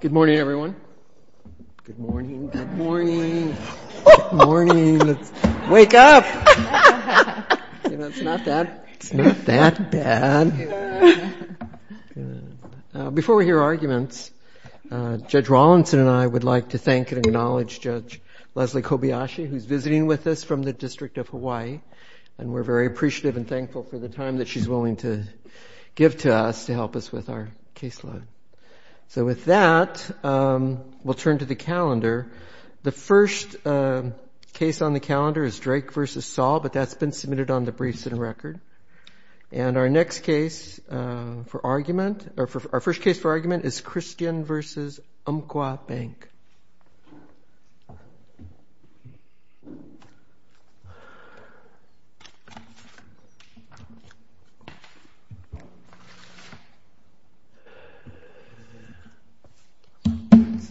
Good morning, everyone. Good morning. Good morning. Wake up. It's not that bad. Before we hear arguments, Judge Rawlinson and I would like to thank and acknowledge Judge Leslie Kobayashi, who's visiting with us from the District of Hawaii. And we're very appreciative and thankful for the time that she's willing to give to us to help us with our caseload. So with that, we'll turn to the calendar. The first case on the calendar is Drake v. Saul, but that's been submitted on the briefs and record. And our next case for argument is Christian v. Umpqua Bank.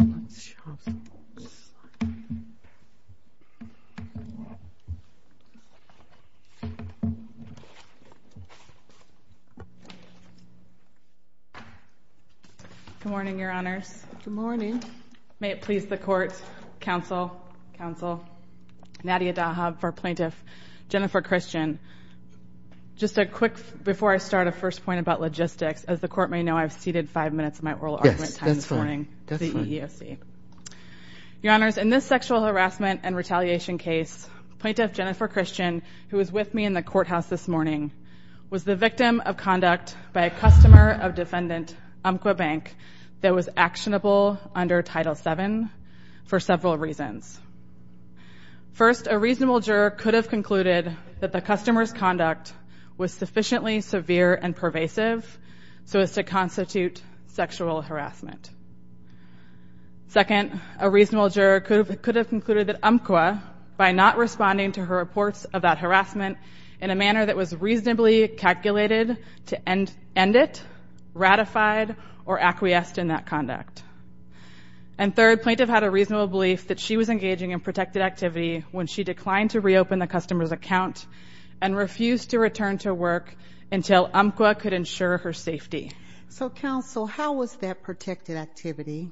Good morning, Your Honors. Good morning. May it please the Court, Counsel, Nadia Dahab, for Plaintiff Jennifer Christian. Just a quick, before I start, a first point about logistics. As the Court may know, I've ceded five minutes of my oral argument time this morning to the EEOC. Your Honors, in this sexual harassment and retaliation case, Plaintiff Jennifer Christian, who was with me in the courthouse this morning, was the victim of conduct by a customer of that was actionable under Title VII for several reasons. First, a reasonable juror could have concluded that the customer's conduct was sufficiently severe and pervasive so as to constitute sexual harassment. Second, a reasonable juror could have concluded that Umpqua, by not responding to her reports of that harassment in a manner that was reasonably calculated to end it, ratified, or acquiesced in that conduct. And third, Plaintiff had a reasonable belief that she was engaging in protected activity when she declined to reopen the customer's account and refused to return to work until Umpqua could ensure her safety. So, Counsel, how was that protected activity?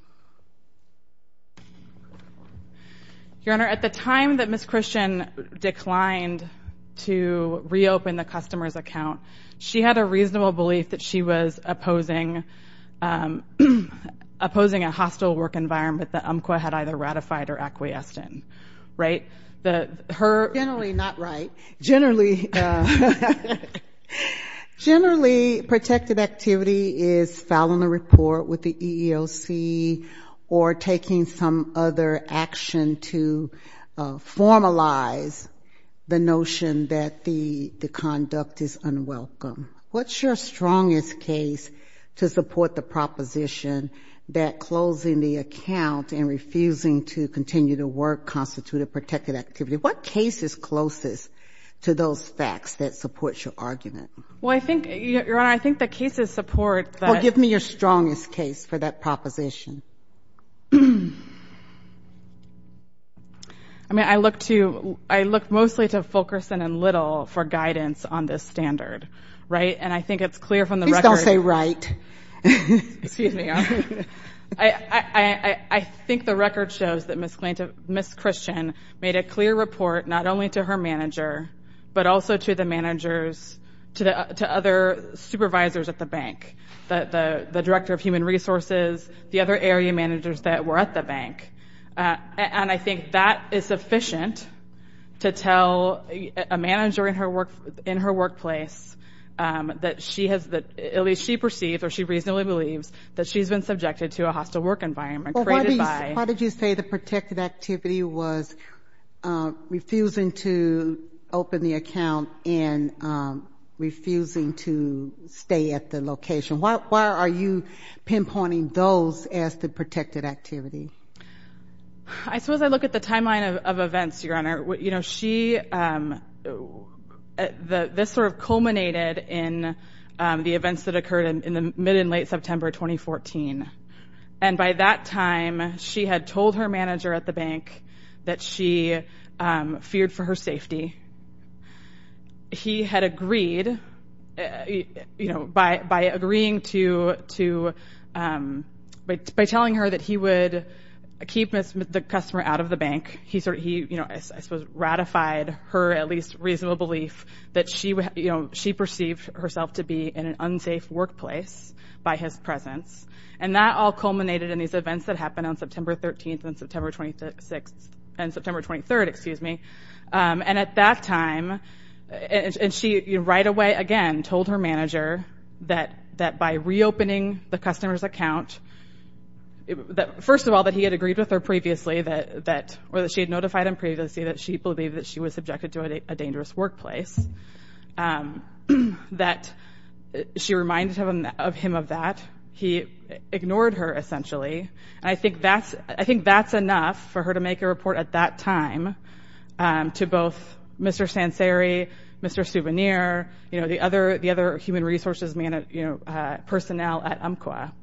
Your Honor, at the time that Ms. Christian declined to reopen, she had a reasonable belief that she was opposing a hostile work environment that Umpqua had either ratified or acquiesced in, right? Generally not right. Generally, protected activity is filing a report with the EEOC or taking some other action to formalize the notion that the conduct is unwelcome. So, what's your strongest case to support the proposition that closing the account and refusing to continue to work constituted protected activity? What case is closest to those facts that support your argument? Well, I think, Your Honor, I think the cases support that Well, give me your strongest case for that proposition. I mean, I look to, I look mostly to Fulkerson and Little for guidance on this standard, right? And I think it's clear from the record Please don't say right. Excuse me, Your Honor. I think the record shows that Ms. Christian made a clear report not only to her manager, but also to the managers, to other supervisors at the bank, the Director of Human Resources, the other area managers that were at the bank. And I think that is that she has, at least she perceives, or she reasonably believes, that she's been subjected to a hostile work environment created by Well, why did you say the protected activity was refusing to open the account and refusing to stay at the location? Why are you pinpointing those as the protected activity? I suppose I look at the timeline of events, Your Honor. You know, she, this sort of culminated in the events that occurred in the mid and late September 2014. And by that time, she had told her manager at the bank that she feared for her safety. He had agreed, you know, by agreeing to, by telling her that he would keep the customer out of the bank, he sort of, you know, I suppose ratified her at least reasonable belief that she, you know, she perceived herself to be in an unsafe workplace by his presence. And that all culminated in these events that happened on September 13th and September 26th, and September 23rd, excuse me. And at that time, and she right away again told her manager that by reopening the customer's account, she had notified him previously that she believed that she was subjected to a dangerous workplace. That she reminded him of that. He ignored her essentially. And I think that's enough for her to make a report at that time to both Mr. Sanceri, Mr. Souvenir, you know,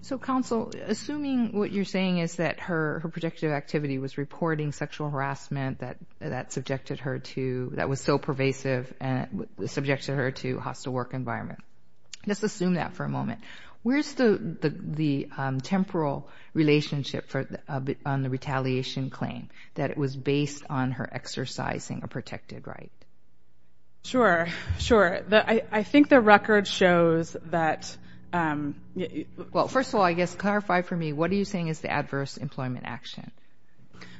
so counsel, assuming what you're saying is that her, her projective activity was reporting sexual harassment that, that subjected her to, that was so pervasive and subjected her to hostile work environment. Let's assume that for a moment. Where's the, the, the temporal relationship for a bit on the retaliation claim that it was based on her exercising a protected right? Sure, sure. I think the record shows that, well, for the most part, first of all, I guess clarify for me, what are you saying is the adverse employment action?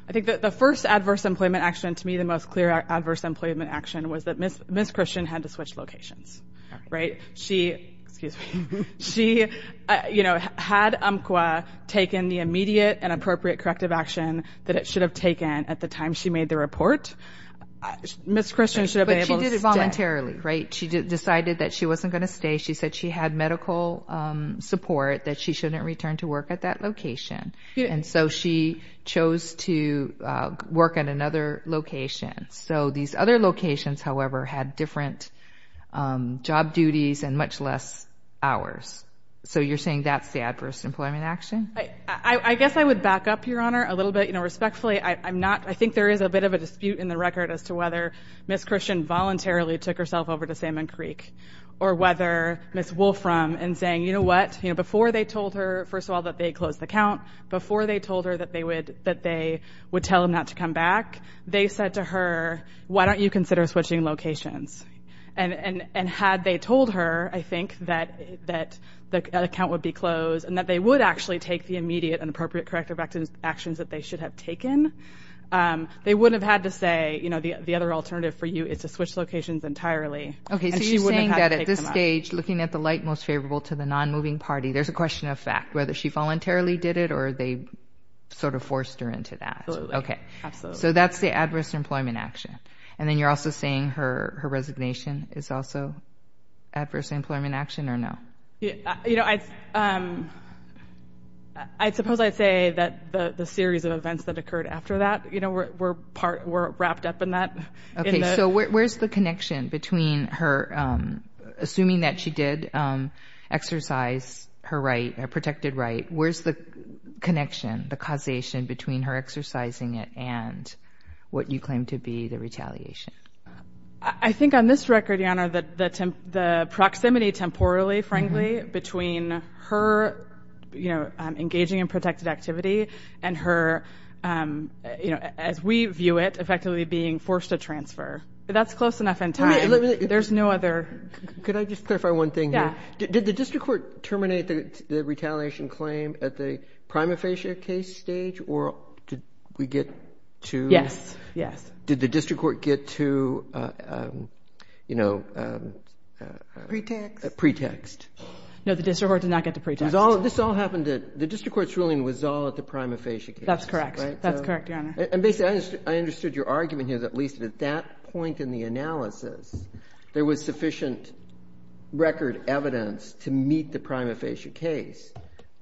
I think that the first adverse employment action, to me, the most clear adverse employment action was that Ms. Christian had to switch locations, right? She, excuse me, she, you know, had UMQA taken the immediate and appropriate corrective action that it should have taken at the time she made the report. Ms. Christian should have been able to stay. But she did it voluntarily, right? She decided that she wasn't going to stay. She said she had medical support that she shouldn't return to work at that location. And so she chose to work at another location. So these other locations, however, had different job duties and much less hours. So you're saying that's the adverse employment action? I guess I would back up your honor a little bit, you know, respectfully, I'm not, I think there is a bit of a dispute in the record as to whether Ms. Christian voluntarily took herself over to Salmon Creek or whether Ms. Wolfram and saying, you know what, you know, before they told her, first of all, that they closed the count, before they told her that they would, that they would tell him not to come back, they said to her, why don't you consider switching locations? And had they told her, I think that, that the account would be closed and that they would actually take the immediate and appropriate corrective actions that they should have taken, they wouldn't have had to say, you know, the other alternative for you is to switch locations entirely. Okay. So you're saying that at this stage, looking at the light most favorable to the non-moving party, there's a question of fact, whether she voluntarily did it or they sort of forced her into that. Okay. So that's the adverse employment action. And then you're also saying her, her resignation is also adverse employment action or no? Yeah. You know, I, um, I suppose I'd say that the, the series of events that occurred after that, you know, we're, we're part, we're wrapped up in that. Okay. So where, where's the connection between her, um, assuming that she did, um, exercise her right, her protected right. Where's the connection, the causation between her exercising it and what you claim to be the retaliation? I think on this record, your honor, the, the, the proximity temporally frankly between her, you know, um, engaging in protected activity and her, um, you know, as we view it effectively being forced to transfer, that's close enough in time. There's no other, could I just clarify one thing here? Did the district court terminate the retaliation claim at the prima facie case stage or did we get to, yes, yes. Did the district court get to, uh, um, you know, um, uh, pretext. No, the district court did not get to pretext. It was all, this all happened to the district court's ruling was all at the prima facie case. That's correct. That's correct. Your honor. And basically I understood, I understood your argument here is at least at that point in the analysis, there was sufficient record evidence to meet the prima facie case.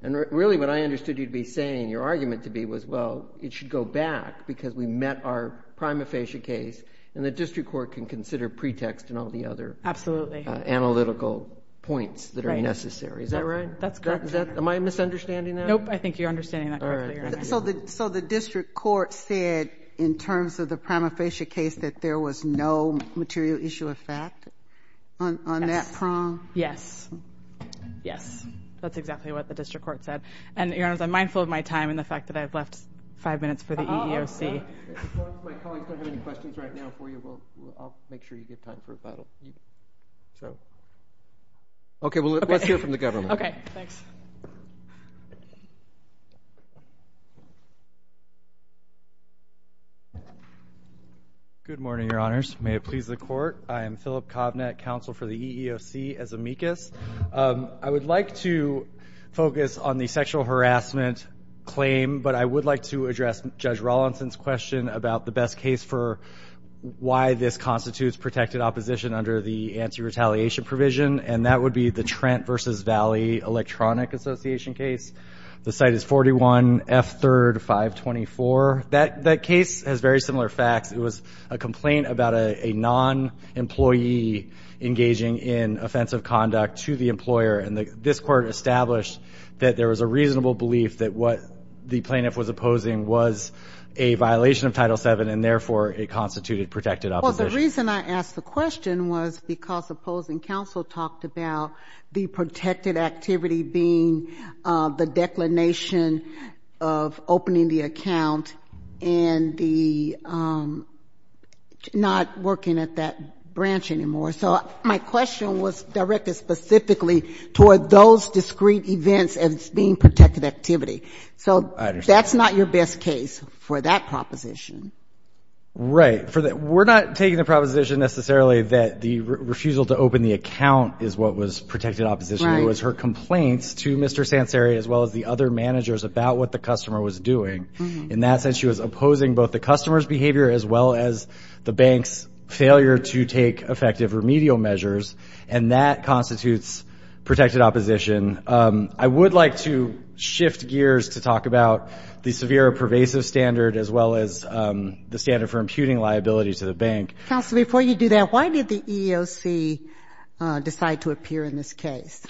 And really what I understood you'd be saying your argument to be was, well, it should go back because we met our prima facie case and the district court can consider pretext and all the other analytical points that are necessary. Is that right? That's correct. Am I misunderstanding that? Nope. I think you're understanding that correctly. So the, so the district court said in terms of the prima facie case that there was no material issue of fact on that prong? Yes. Yes. That's exactly what the district court said. And your honors, I'm mindful of my time and the fact that I've left five minutes for the EEOC. My colleagues don't have any questions right now for you. We'll, I'll make sure you get time for a final meeting. So, okay, well let's hear from the government. Okay. Thanks. Good morning, your honors. May it please the court. I am Philip Covnet, counsel for the EEOC as amicus. Um, I would like to focus on the sexual harassment claim, but I would like to address judge Rawlinson's question about the best case for why this constitutes protected opposition under the anti-retaliation provision. And that would be the Trent versus Valley electronic association case. The site is 41 F third five 24. That that case has very similar facts. It was a complaint about a non-employee engaging in offensive conduct to the employer. And this court established that there was a reasonable belief that what the plaintiff was opposing was a violation of title seven and therefore it constituted protected opposition. I asked the question was because opposing counsel talked about the protected activity being, uh, the declination of opening the account and the, um, not working at that branch anymore. So my question was directed specifically toward those discreet events as being protected activity. So that's not your best case for that proposition, right? For that. We're not taking the proposition necessarily that the refusal to open the account is what was protected opposition. It was her complaints to Mr. Sanceri as well as the other managers about what the customer was doing in that sense. She was opposing both the customer's behavior as well as the bank's failure to take effective remedial measures and that constitutes protected opposition. Um, I would like to shift gears to talk about the severe pervasive standard as well as, um, the standard for imputing liability to the bank. Counselor, before you do that, why did the EEOC, uh, decide to appear in this case?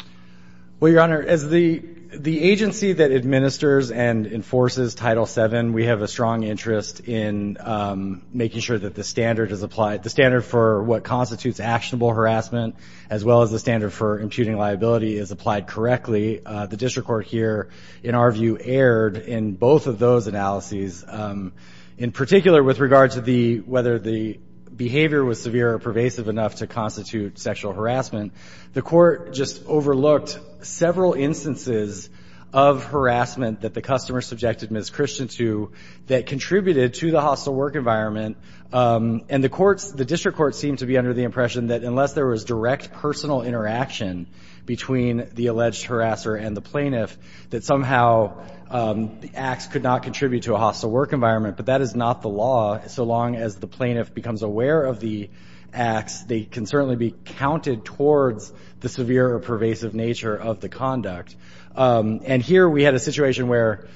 Well, Your Honor, as the, the agency that administers and enforces title seven, we have a strong interest in, um, making sure that the standard is applied. The standard for what constitutes actionable harassment as well as the standard for imputing liability is applied correctly. Uh, the district court here in our view erred in both of those analyses. Um, in particular with regard to the, whether the behavior was severe or pervasive enough to constitute sexual harassment, the court just overlooked several instances of harassment that the customer subjected Ms. Christian to that contributed to the hostile work environment. Um, and the courts, the district court seemed to be under the impression that unless there was direct personal interaction between the alleged harasser and the plaintiff, that somehow, um, the acts could not contribute to a hostile work environment. But that is not the law. So long as the plaintiff becomes aware of the acts, they can certainly be counted towards the severe or pervasive nature of the conduct. Um, and here we had a situation where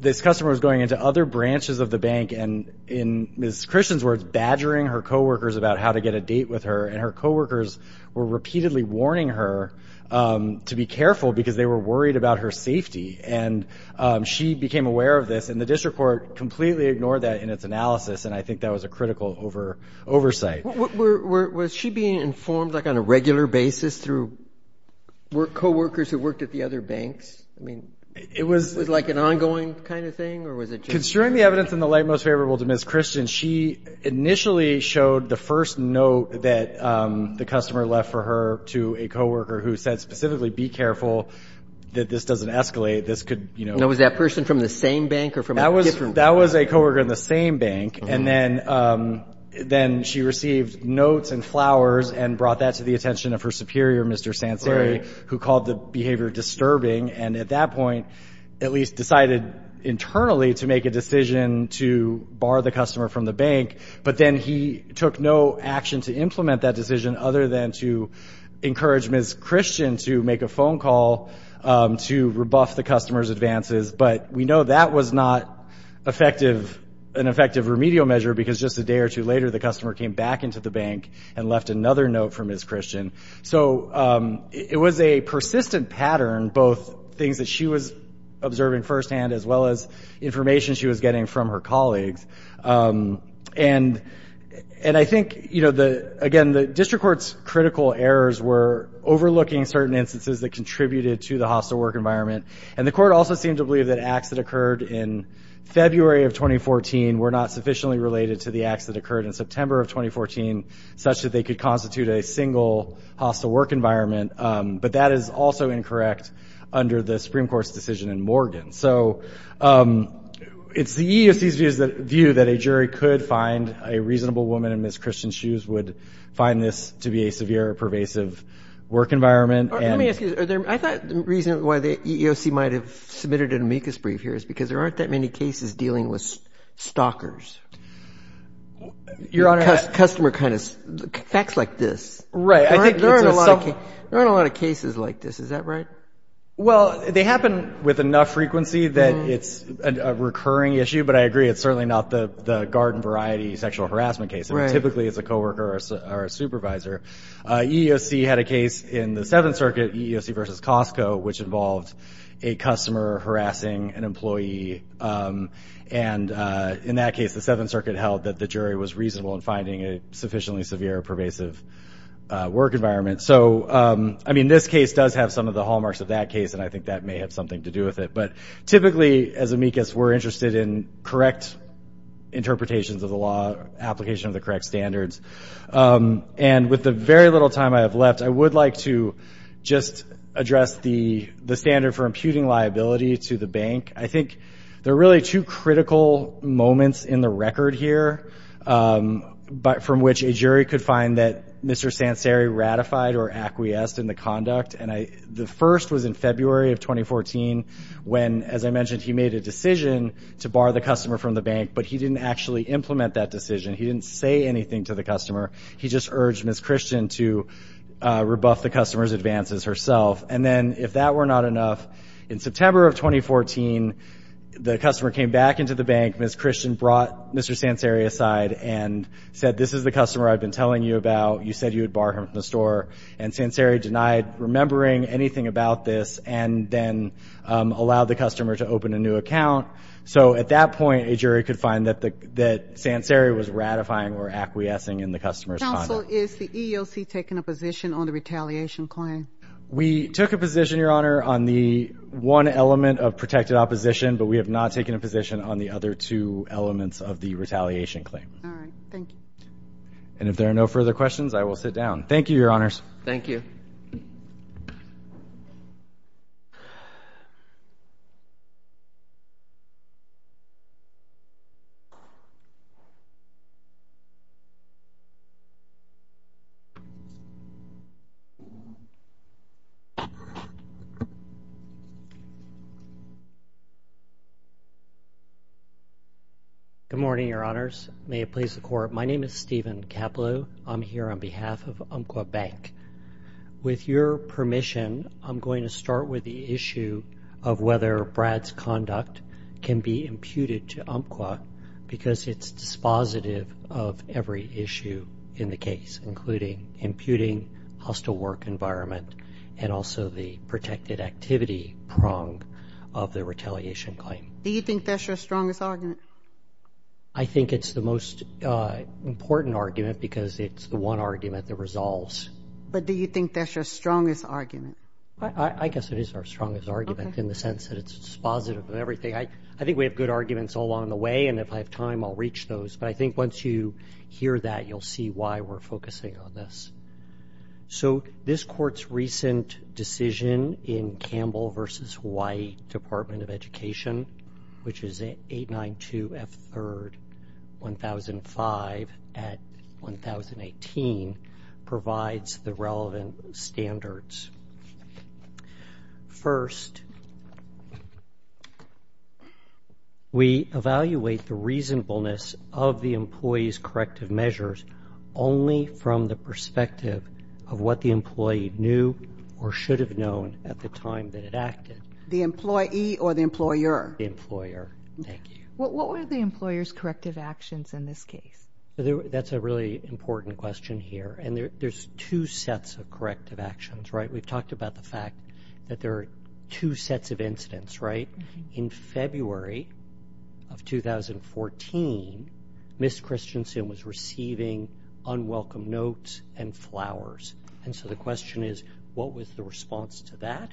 this customer was going into other branches of the bank and in Ms. Christian's words, badgering her coworkers about how to get a date with her and her coworkers were repeatedly warning her, um, to be careful because they were worried about her safety. And, um, she became aware of this and the district court completely ignored that in its analysis. And I think that was a critical oversight. Were, was she being informed like on a regular basis through coworkers who worked at the other banks? I mean, it was like an ongoing kind of thing or was it just... Considering the evidence in the light most favorable to Ms. Christian, she initially showed the first note that, um, the customer left for her to a coworker who said specifically, be careful that this doesn't escalate. This could, you know... Now was that person from the same bank or from a different... That was a coworker in the same bank. And then, um, then she received notes and flowers and brought that to the attention of her superior, Mr. Sanceri, who called the behavior disturbing. And at that point, at least decided internally to make a decision to bar the customer from the bank. But then he took no action to implement that decision other than to encourage Ms. Christian to make a phone call, um, to rebuff the customer's advances. But we know that was not effective, an effective remedial measure because just a day or two later, the customer came back into the bank and left another note for Ms. Christian. So, um, it was a persistent pattern, both things that she was observing firsthand as well as information she was getting from her colleagues. Um, and, and I think, you know, the, again, the district court's critical errors were overlooking certain instances that contributed to the hostile work environment. And the court also seemed to believe that acts that occurred in February of 2014 were not sufficiently related to the acts that occurred in September of 2014, such that they could constitute a single hostile work environment. Um, but that is also incorrect under the Supreme Court's decision in Morgan. So, um, it's the EEOC's view that a jury could find a reasonable woman in Ms. Christian's shoes would find this to be a severe, pervasive work environment. Let me ask you, are there, I thought the reason why the EEOC might have submitted an amicus brief here is because there aren't that many cases dealing with stalkers. Your Honor. Customer kind of, facts like this. Right. There aren't a lot of cases like this. Is that right? Well, they happen with enough frequency that it's a recurring issue, but I agree, it's certainly not the, the garden variety sexual harassment case. I mean, typically it's a coworker or a supervisor. Uh, EEOC had a case in the Seventh Circuit, EEOC versus Costco, which involved a customer harassing an employee. Um, and, uh, in that case, the Seventh Circuit was finding a sufficiently severe, pervasive work environment. So, um, I mean, this case does have some of the hallmarks of that case, and I think that may have something to do with it. But typically as amicus, we're interested in correct interpretations of the law application of the correct standards. Um, and with the very little time I have left, I would like to just address the, the standard for imputing liability to the bank. I think there are really two critical moments in the record here, um, but from which a jury could find that Mr. Sanceri ratified or acquiesced in the conduct. And I, the first was in February of 2014 when, as I mentioned, he made a decision to bar the customer from the bank, but he didn't actually implement that decision. He didn't say anything to the customer. He just urged Ms. Christian to, uh, rebuff the customer's advances herself. And then if that were not enough, in September of 2014, the customer came back into the bank. Ms. Christian brought Mr. Sanceri aside and said, this is the customer I've been telling you about. You said you would bar him from the store. And Sanceri denied remembering anything about this and then, um, allowed the customer to open a new account. So at that point, a jury could find that the, that Sanceri was ratifying or acquiescing in the customer's conduct. Counsel, is the one element of protected opposition, but we have not taken a position on the other two elements of the retaliation claim. All right. Thank you. And if there are no further questions, I will sit down. Thank you, your honors. Thank you. Good morning, your honors. May it please the court. My name is Steven Capelo. I'm here on behalf of Umpqua Bank. With your permission, I'm going to start with the issue of whether Brad's conduct can be imputed to Umpqua because it's dispositive of every issue in the case, including imputing hostile work environment and also the protected activity prong of the retaliation claim. Do you think that's your strongest argument? I think it's the most important argument because it's the one argument that resolves. But do you think that's your strongest argument? I guess it is our strongest argument in the sense that it's dispositive of everything. I think we have good arguments along the way and if I have time, I'll reach those. But I think once you hear that, you'll see why we're focusing on this. So this court's recent decision in Campbell v. Hawaii Department of Education, which is 892 F3rd 1005 at 1018, provides the relevant standards. First, we evaluate the reasonableness of the employee's corrective measures only from the perspective of what the employee knew or should have known at the time that it acted. The employee or the employer? The employer. Thank you. What were the employer's corrective actions in this case? That's a really important question here. And there's two sets of corrective actions, right? We've talked about the fact that there are two sets of incidents, right? In February of 2014, Ms. Christensen was receiving unwelcome notes and flowers. And so the question is, what was the response to that?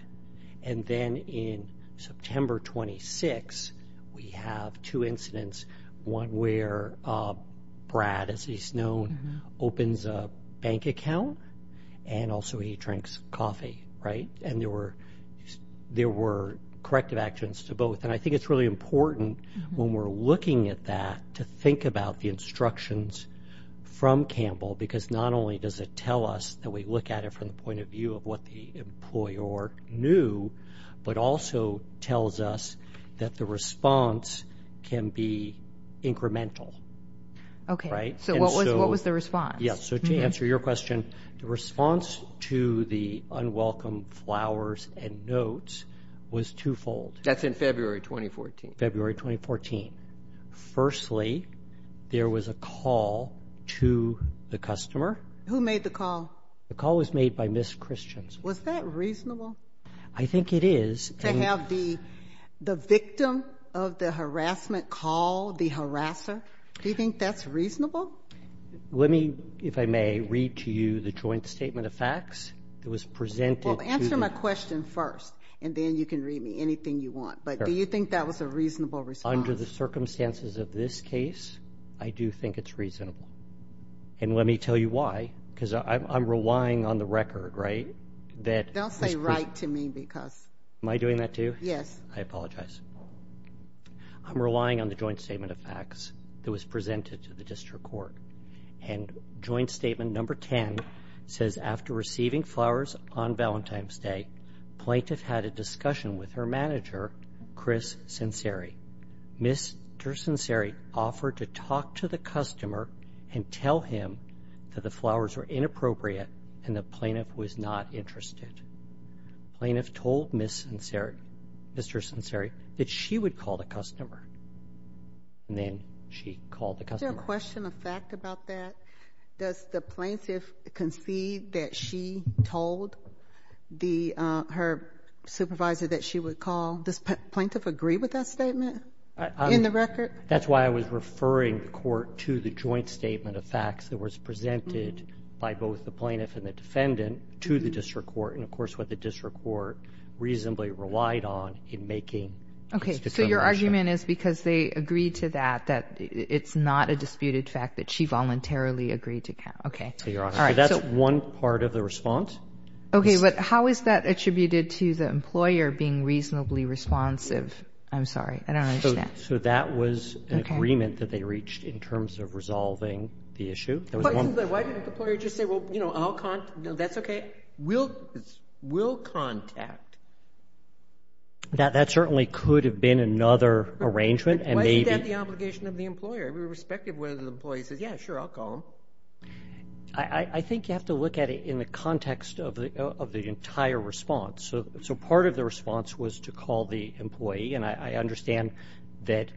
And then in September 26, we have two incidents, one where Brad, as he's known, opens a bank account and also he drinks coffee, right? And there were corrective actions to both. And I think it's really important when we're looking at that to think about the instructions from Campbell because not only does it tell us that we look at it from the point of view of what the employer knew, but also tells us that the response can be incremental, right? So what was the response? Yes. So to answer your question, the response to the unwelcome flowers and notes was twofold. That's in February 2014. February 2014. Firstly, there was a Who made the call? The call was made by Ms. Christensen. Was that reasonable? I think it is. To have the victim of the harassment call the harasser, do you think that's reasonable? Let me, if I may, read to you the joint statement of facts that was presented. Well, answer my question first and then you can read me anything you want. But do you think that was a reasonable response? Under the circumstances of this case, I do think it's reasonable. And let me tell you why. Because I'm relying on the record, right? Don't say right to me because... Am I doing that to you? Yes. I apologize. I'm relying on the joint statement of facts that was presented to the district court. And joint statement number 10 says after receiving flowers on Valentine's Day, plaintiff had a discussion with her manager, Chris Senseri. Mr. Senseri offered to talk to the customer and tell him that the flowers were inappropriate and the plaintiff was not interested. Plaintiff told Mr. Senseri that she would call the customer. And then she called the customer. Is there a question of fact about that? Does the plaintiff concede that she told her supervisor that she would call... Does plaintiff agree with that statement in the record? That's why I was referring the court to the joint statement of facts that was presented by both the plaintiff and the defendant to the district court. And of course, what the district court reasonably relied on in making its determination. Okay. So your argument is because they agreed to that, that it's not a disputed fact that she voluntarily agreed to count. Okay. Your Honor. So that's one part of the response. Okay. But how is that attributed to the employer being reasonably responsive? I'm sorry. I don't understand. So that was an agreement that they reached in terms of resolving the issue. Why didn't the employer just say, well, you know, I'll contact... No, that's okay. We'll contact. That certainly could have been another arrangement and maybe... Why is that the obligation of the employer? Every respective one of the employees says, yeah, sure, I'll call him. I think you have to look at it in the context of the entire response. So part of the response was to call the employee. And I understand that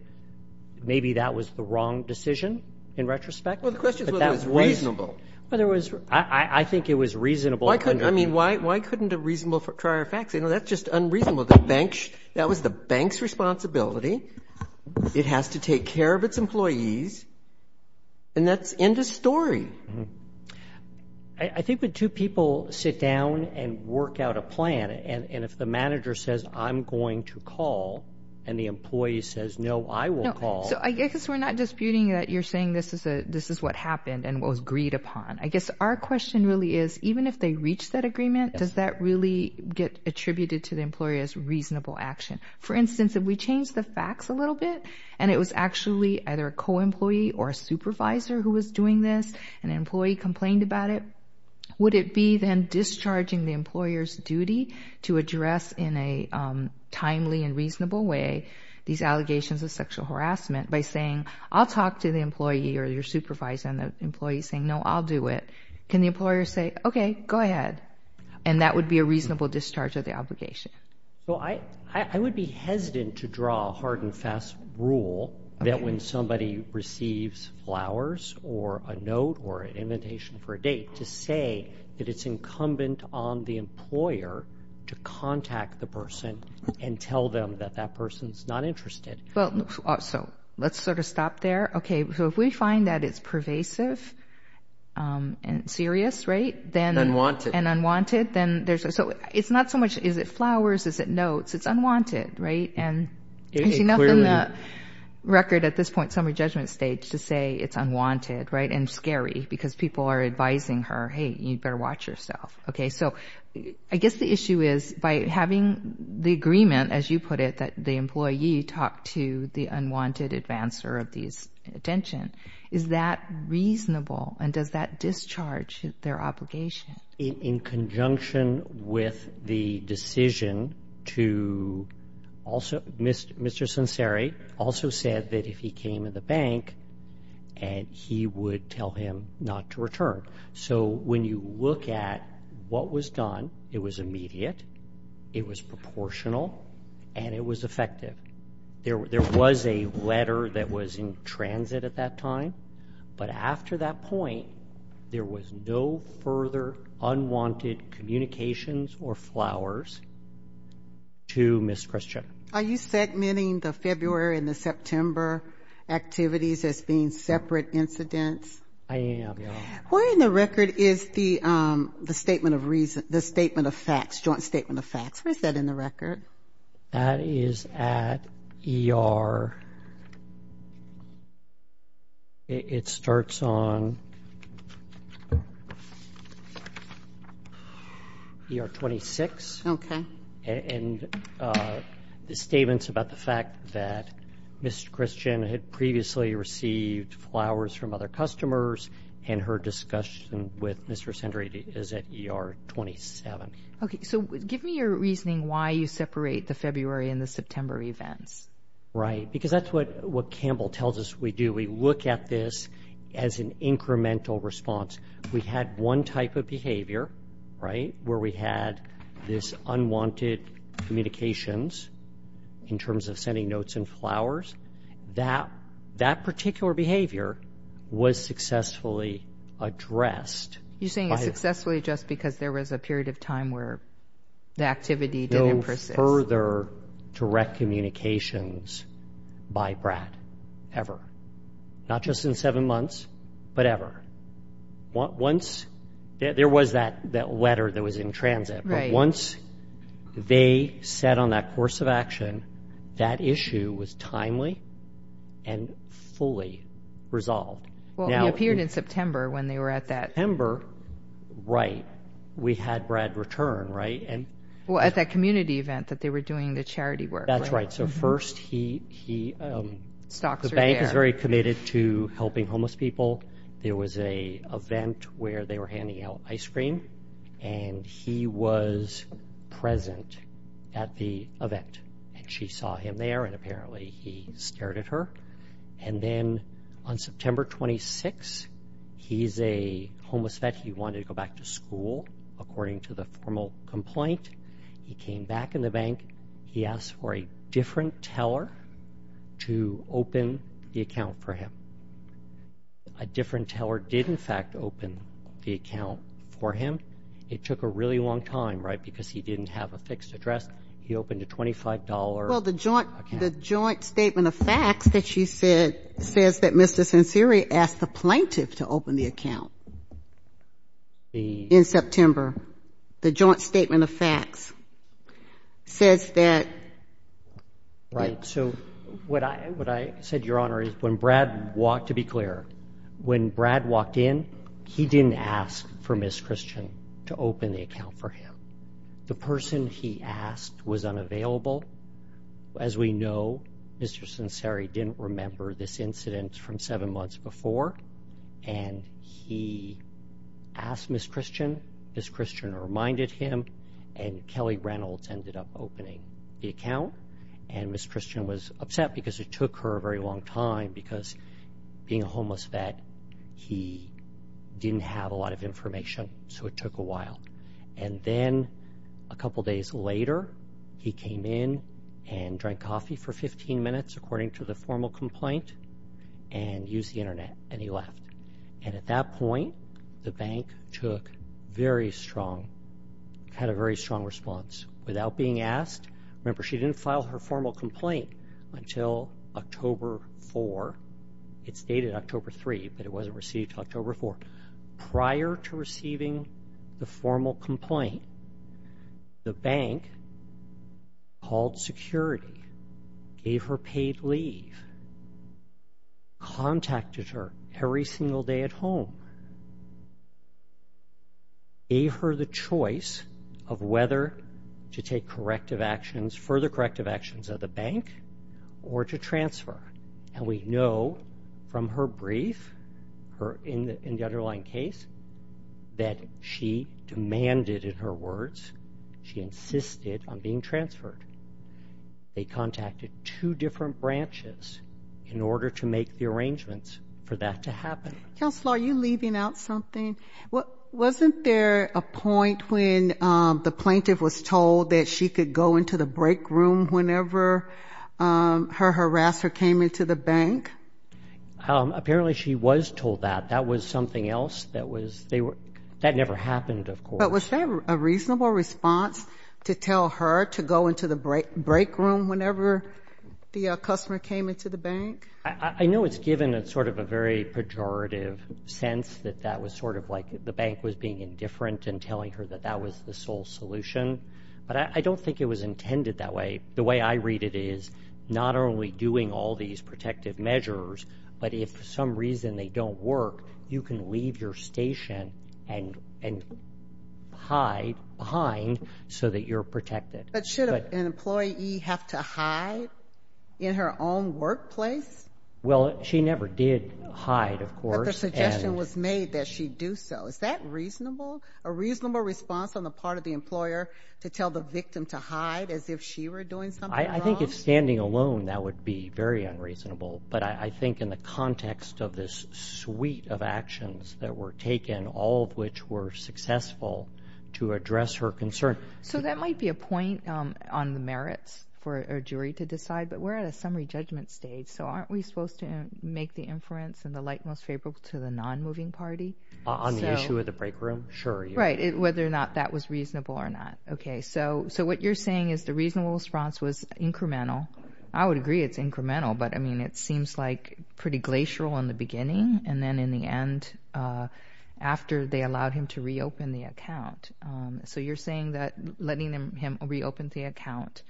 maybe that was the wrong decision in retrospect. But that was... Well, the question is whether it was reasonable. Well, there was... I think it was reasonable under the... I mean, why couldn't a reasonable trier fact say, no, that's just unreasonable? That was the bank's responsibility. It has to take care of its employees. And that's the end of the story. I think when two people sit down and work out a plan, and if the manager says, I'm going to call, and the employee says, no, I will call... So I guess we're not disputing that you're saying this is what happened and what was agreed upon. I guess our question really is, even if they reach that agreement, does that really get attributed to the employer as reasonable action? For instance, if we change the facts a little bit, and it was actually either a co-employee or a supervisor who was doing this, and an employee complained about it, would it be then discharging the employer's duty to address in a timely and reasonable way these allegations of sexual harassment by saying, I'll talk to the employee or your supervisor, and the employee's saying, no, I'll do it. Can the employer say, okay, go ahead? And that would be a reasonable discharge of the obligation. Well, I would be hesitant to draw a hard and fast rule that when somebody receives flowers or a note or an invitation for a date to say that it's incumbent on the employer to contact the person and tell them that that person's not interested. So let's sort of stop there. Okay. So if we find that it's pervasive and serious, right? And unwanted. And unwanted. So it's not so much, is it flowers? Is it notes? It's unwanted, right? And there's enough in the record at this point, summary judgment stage, to say it's unwanted, right? And scary because people are advising her, hey, you'd better watch yourself. Okay. So I guess the issue is by having the agreement, as you put it, that the employee talked to the unwanted advancer of these attention, is that reasonable? And does that discharge their obligation? In conjunction with the decision to also, Mr. Sonseri also said that if he came in the bank and he would tell him not to return. So when you look at what was done, it was immediate, it was proportional, and it was effective. There was a letter that was in the record, unwanted communications or flowers to Ms. Christiana. Are you segmenting the February and the September activities as being separate incidents? I am, yeah. Where in the record is the statement of facts, joint statement of facts? Where's that in the record? That is at ER, it starts on ER 26. Okay. And the statements about the fact that Ms. Christiana had previously received flowers from other customers, and her discussion with Mr. Sonseri is at ER 27. Okay, so give me your reasoning why you separate the February and the September events. Right, because that's what Campbell tells us we do. We look at this as an incremental response. We had one type of behavior, right, where we had this unwanted communications in terms of sending notes and flowers. That particular behavior was successfully addressed. You're saying it's successfully addressed because there was a period of time where the activity didn't persist. No further direct communications by Brad, ever. Not just in seven months, but ever. There was that letter that was in transit, but once they set on that course of action, that issue was timely and fully resolved. Well, he appeared in September when they were at that... September, right. We had Brad return, right? Well, at that community event that they were doing the charity work. That's right. So first he... Stocks are there. The bank is very committed to helping homeless people. There was an event where they were handing out ice cream, and he was present at the event. And she saw him there, and apparently he stared at her. And then on September 26th, he's a homeless vet. He wanted to go back to school, according to the formal complaint. He came back in the bank. He asked for a different teller to open the account for him. A different teller did in fact open the account for him. It took a really long time, right, because he didn't have a fixed address. He opened a $25... Well, the joint statement of facts that you said says that Mr. Censeri asked the plaintiff to open the account in September. The joint statement of facts says that... Right. So what I said, Your Honor, is when Brad walked, to be clear, when Brad walked in, he didn't ask for Ms. Christian to open the account for him. The person he asked was unavailable. As we know, Mr. Censeri didn't remember this incident from seven months before. And he asked Ms. Christian, Ms. Christian reminded him, and Kelly Reynolds ended up opening the account. And Ms. Christian was upset because it took her a very long time because being a homeless vet, he didn't have a lot of information, so it took a while. And then a couple days later, he came in and drank coffee for 15 minutes according to the formal complaint and used the Internet, and he left. And at that point, the bank took very strong, had a very strong response. Without being asked, remember, she didn't file her formal complaint until October 4. It's dated October 3, but it wasn't received until October 4. Prior to receiving the formal complaint, the bank called security, gave her paid leave, contacted her every single day at home, gave her the choice of whether to take corrective actions, further corrective actions at the bank or to transfer. And we know from her brief in the underlying case that she demanded, in her words, she insisted on being transferred. They contacted two different branches in order to make the arrangements for that to happen. Counselor, are you leaving out something? Wasn't there a point when the plaintiff was told that she could go into the break room whenever her harasser came into the bank? Apparently, she was told that. That was something else. That never happened, of course. But was there a reasonable response to tell her to go into the break room whenever the customer came into the bank? I know it's given sort of a very pejorative sense that that was sort of like the bank was being indifferent in telling her that that was the sole solution, but I don't think it was intended that way. The way I read it is not only doing all these protective measures, but if for some reason they don't work, you can leave your station and hide behind so that you're protected. But should an employee have to hide in her own workplace? Well, she never did hide, of course. But the suggestion was made that she do so. Is that reasonable? A reasonable response on the part of the employer to tell the victim to hide as if she were doing something wrong? I think if standing alone, that would be very unreasonable. But I think in the context of this suite of actions that were taken, all of which were successful to address her concern. So that might be a point on the merits for a jury to decide, but we're at a summary judgment stage, so aren't we supposed to make the inference in the light most favorable to the non-moving party? On the issue of the break room? Sure. Right. Whether or not that was reasonable or not. Okay. So what you're saying is the reasonable response was incremental. I would agree it's incremental, but I mean, it seems like pretty glacial in the beginning, and then in the end, after they allowed him to reopen the account. So you're saying that letting him reopen the account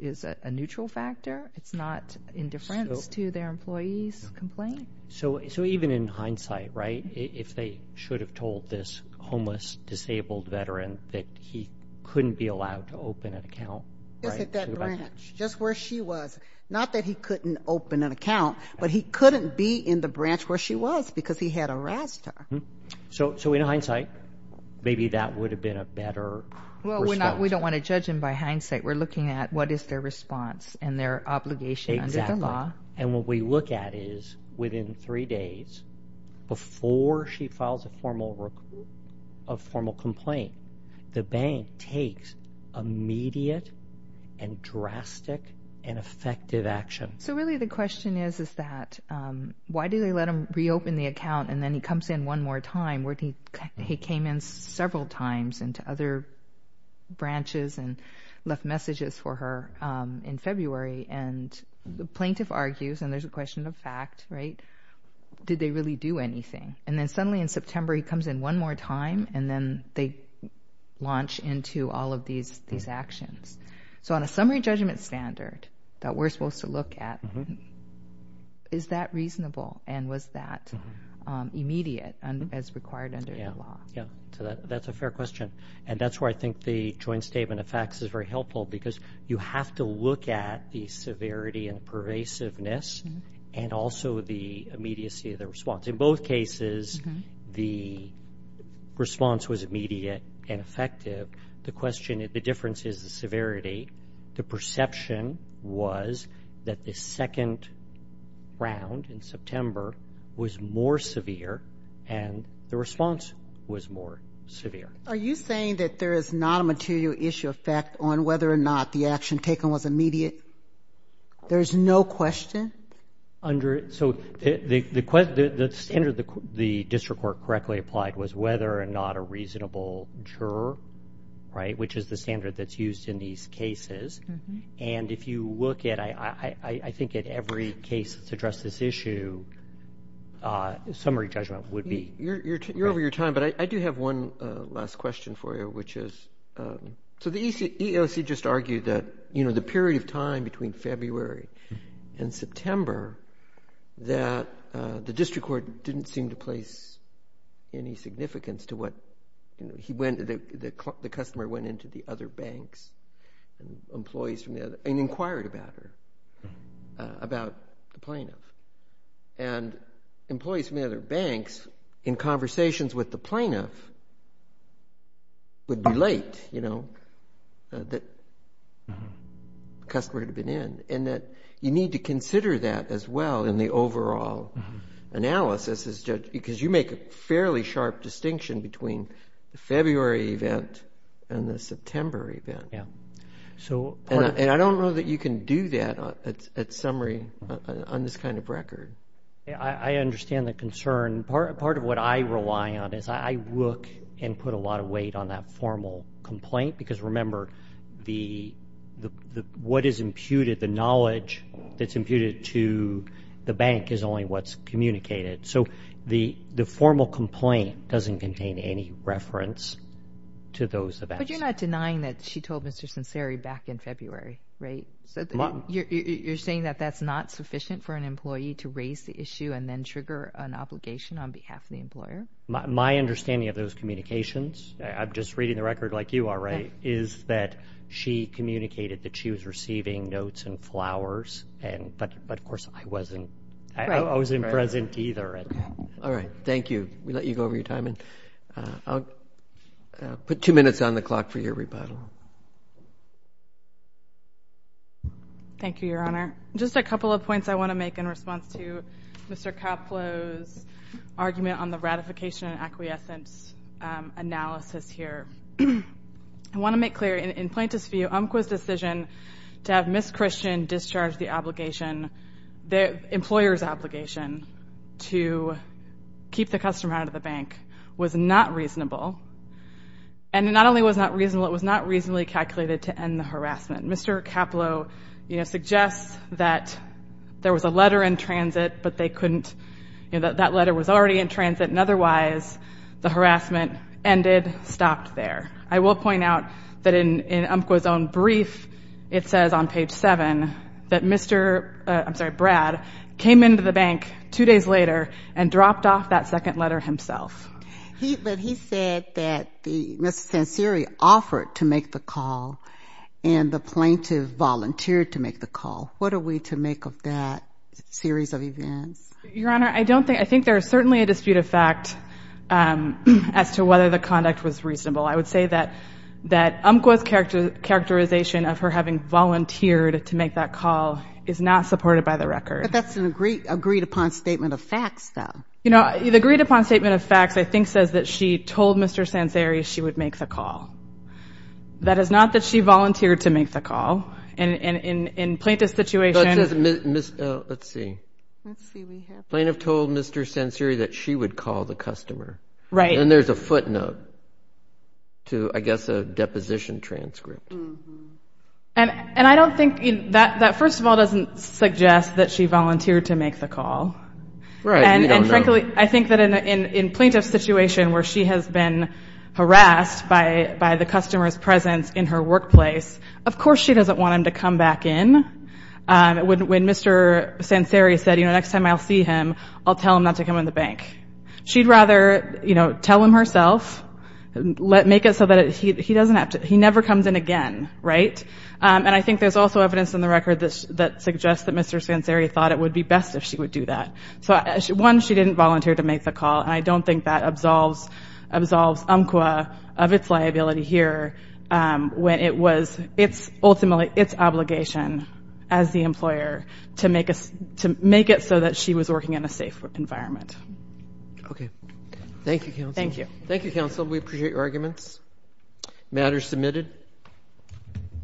is a neutral factor? It's not indifference to their employee's complaint? So even in hindsight, right, if they should have told this homeless, disabled veteran that he couldn't be allowed to open an account? Just at that branch. Just where she was. Not that he couldn't open an account, but he couldn't be in the branch where she was because he had arrested her. So in hindsight, maybe that would have been a better response? We don't want to judge them by hindsight. We're looking at what is their response and their obligation under the law. And what we look at is within three days, before she files a formal complaint, the bank takes immediate and drastic and effective action. So really the question is, is that why do they let him reopen the account and then he comes in one more time where he came in several times into other branches and left messages for her in February? And the plaintiff argues, and there's a question of fact, right? Did they really do anything? And then suddenly in September, he comes in one more time and then they launch into all of these actions. So on a summary judgment standard that we're supposed to look at, is that reasonable and was that immediate as required under the law? That's a fair question. And that's where I think the joint statement of facts is very You have to look at the severity and pervasiveness and also the immediacy of the response. In both cases, the response was immediate and effective. The question, the difference is the severity. The perception was that the second round in September was more severe and the response was more severe. Are you saying that there is not a material issue of fact on whether or not the action taken was immediate? There is no question? Under the standard the district court correctly applied was whether or not a reasonable juror, which is the standard that's used in these cases. And if you look at, I think at every case that's addressed this issue, summary judgment would be. You're over your time, but I do have one last question for you, which is, so the EEOC just argued that the period of time between February and September that the district court didn't seem to place any significance to what, the customer went into the other banks and inquired about it, about the plaintiff. And employees from the other banks, in conversations with the plaintiff, would be late, you know, that the customer had been in. And that you need to consider that as well in the overall analysis as judge, because you make a fairly sharp distinction between the February event and the September event. And I don't know that you can do that at summary on this kind of record. I understand the concern. Part of what I rely on is I look and put a lot of weight on that formal complaint, because remember, what is imputed, the knowledge that's imputed to the bank is only what's communicated. So the formal complaint doesn't contain any reference to those events. But you're not denying that she told Mr. Sinceri back in February, right? You're saying that that's not sufficient for an employee to raise the issue and then trigger an obligation on behalf of the employer? My understanding of those communications, I'm just reading the record like you are, right, is that she communicated that she was receiving notes and flowers, but of course I wasn't, I wasn't present either. All right. Thank you. We let you go over your time and I'll put two minutes on the clock for your rebuttal. Thank you, Your Honor. Just a couple of points I want to make in response to Mr. Kaplow's argument on the ratification and acquiescence analysis here. I want to make clear in plaintiff's view, UMQA's decision to have Ms. Christian discharge the obligation, the employer's obligation to keep the customer out of the bank was not reasonable. And not only was it not reasonable, it was not reasonably calculated to end the harassment. Mr. Kaplow, you know, suggests that there was a letter in transit, but they couldn't, you know, that letter was already in transit and otherwise the harassment ended, stopped there. I will point out that in UMQA's own brief, it says on page seven that Mr., uh, I'm sorry, Brad came into the bank two days later and dropped off that second letter himself. He, but he said that the, Ms. Tansiri offered to make the call and the plaintiff volunteered to make the call. What are we to make of that series of events? Your Honor, I don't think, I think there is certainly a dispute of fact, um, as to whether the conduct was reasonable. I would say that, that UMQA's characterization of her having volunteered to make that call is not supported by the record. But that's an agreed, agreed upon statement of facts, though. You know, the agreed upon statement of facts, I think, says that she told Mr. Tansiri she would make the call. That is not that she volunteered to make the call. And, and in, in plaintiff's situation, But it says Ms., Ms., uh, let's see, plaintiff told Mr. Tansiri that she would call the customer. Right. And there's a footnote to, I guess, a deposition transcript. And, and I don't think, that, that first of all doesn't suggest that she volunteered to make the call. Right, we don't know. And, and frankly, I think that in, in, in plaintiff's situation where she has been harassed by, by the customer's presence in her workplace, of course she doesn't want him to come back in. Um, when, when Mr. Tansiri said, you know, next time I'll see him, I'll tell him not to come in the bank. She'd rather, you know, tell him herself, let, make it so that he, he doesn't have to, he never comes in again. Right. Um, and I think there's also evidence in the record that, that suggests that Mr. Tansiri thought it would be best if she would do that. So, one, she didn't volunteer to make the call. And I don't think that absolves, absolves UMQA of its liability here, um, when it was its, ultimately its obligation as the environment. Okay. Thank you, counsel. Thank you. Thank you, counsel. We appreciate your arguments. Matter submitted.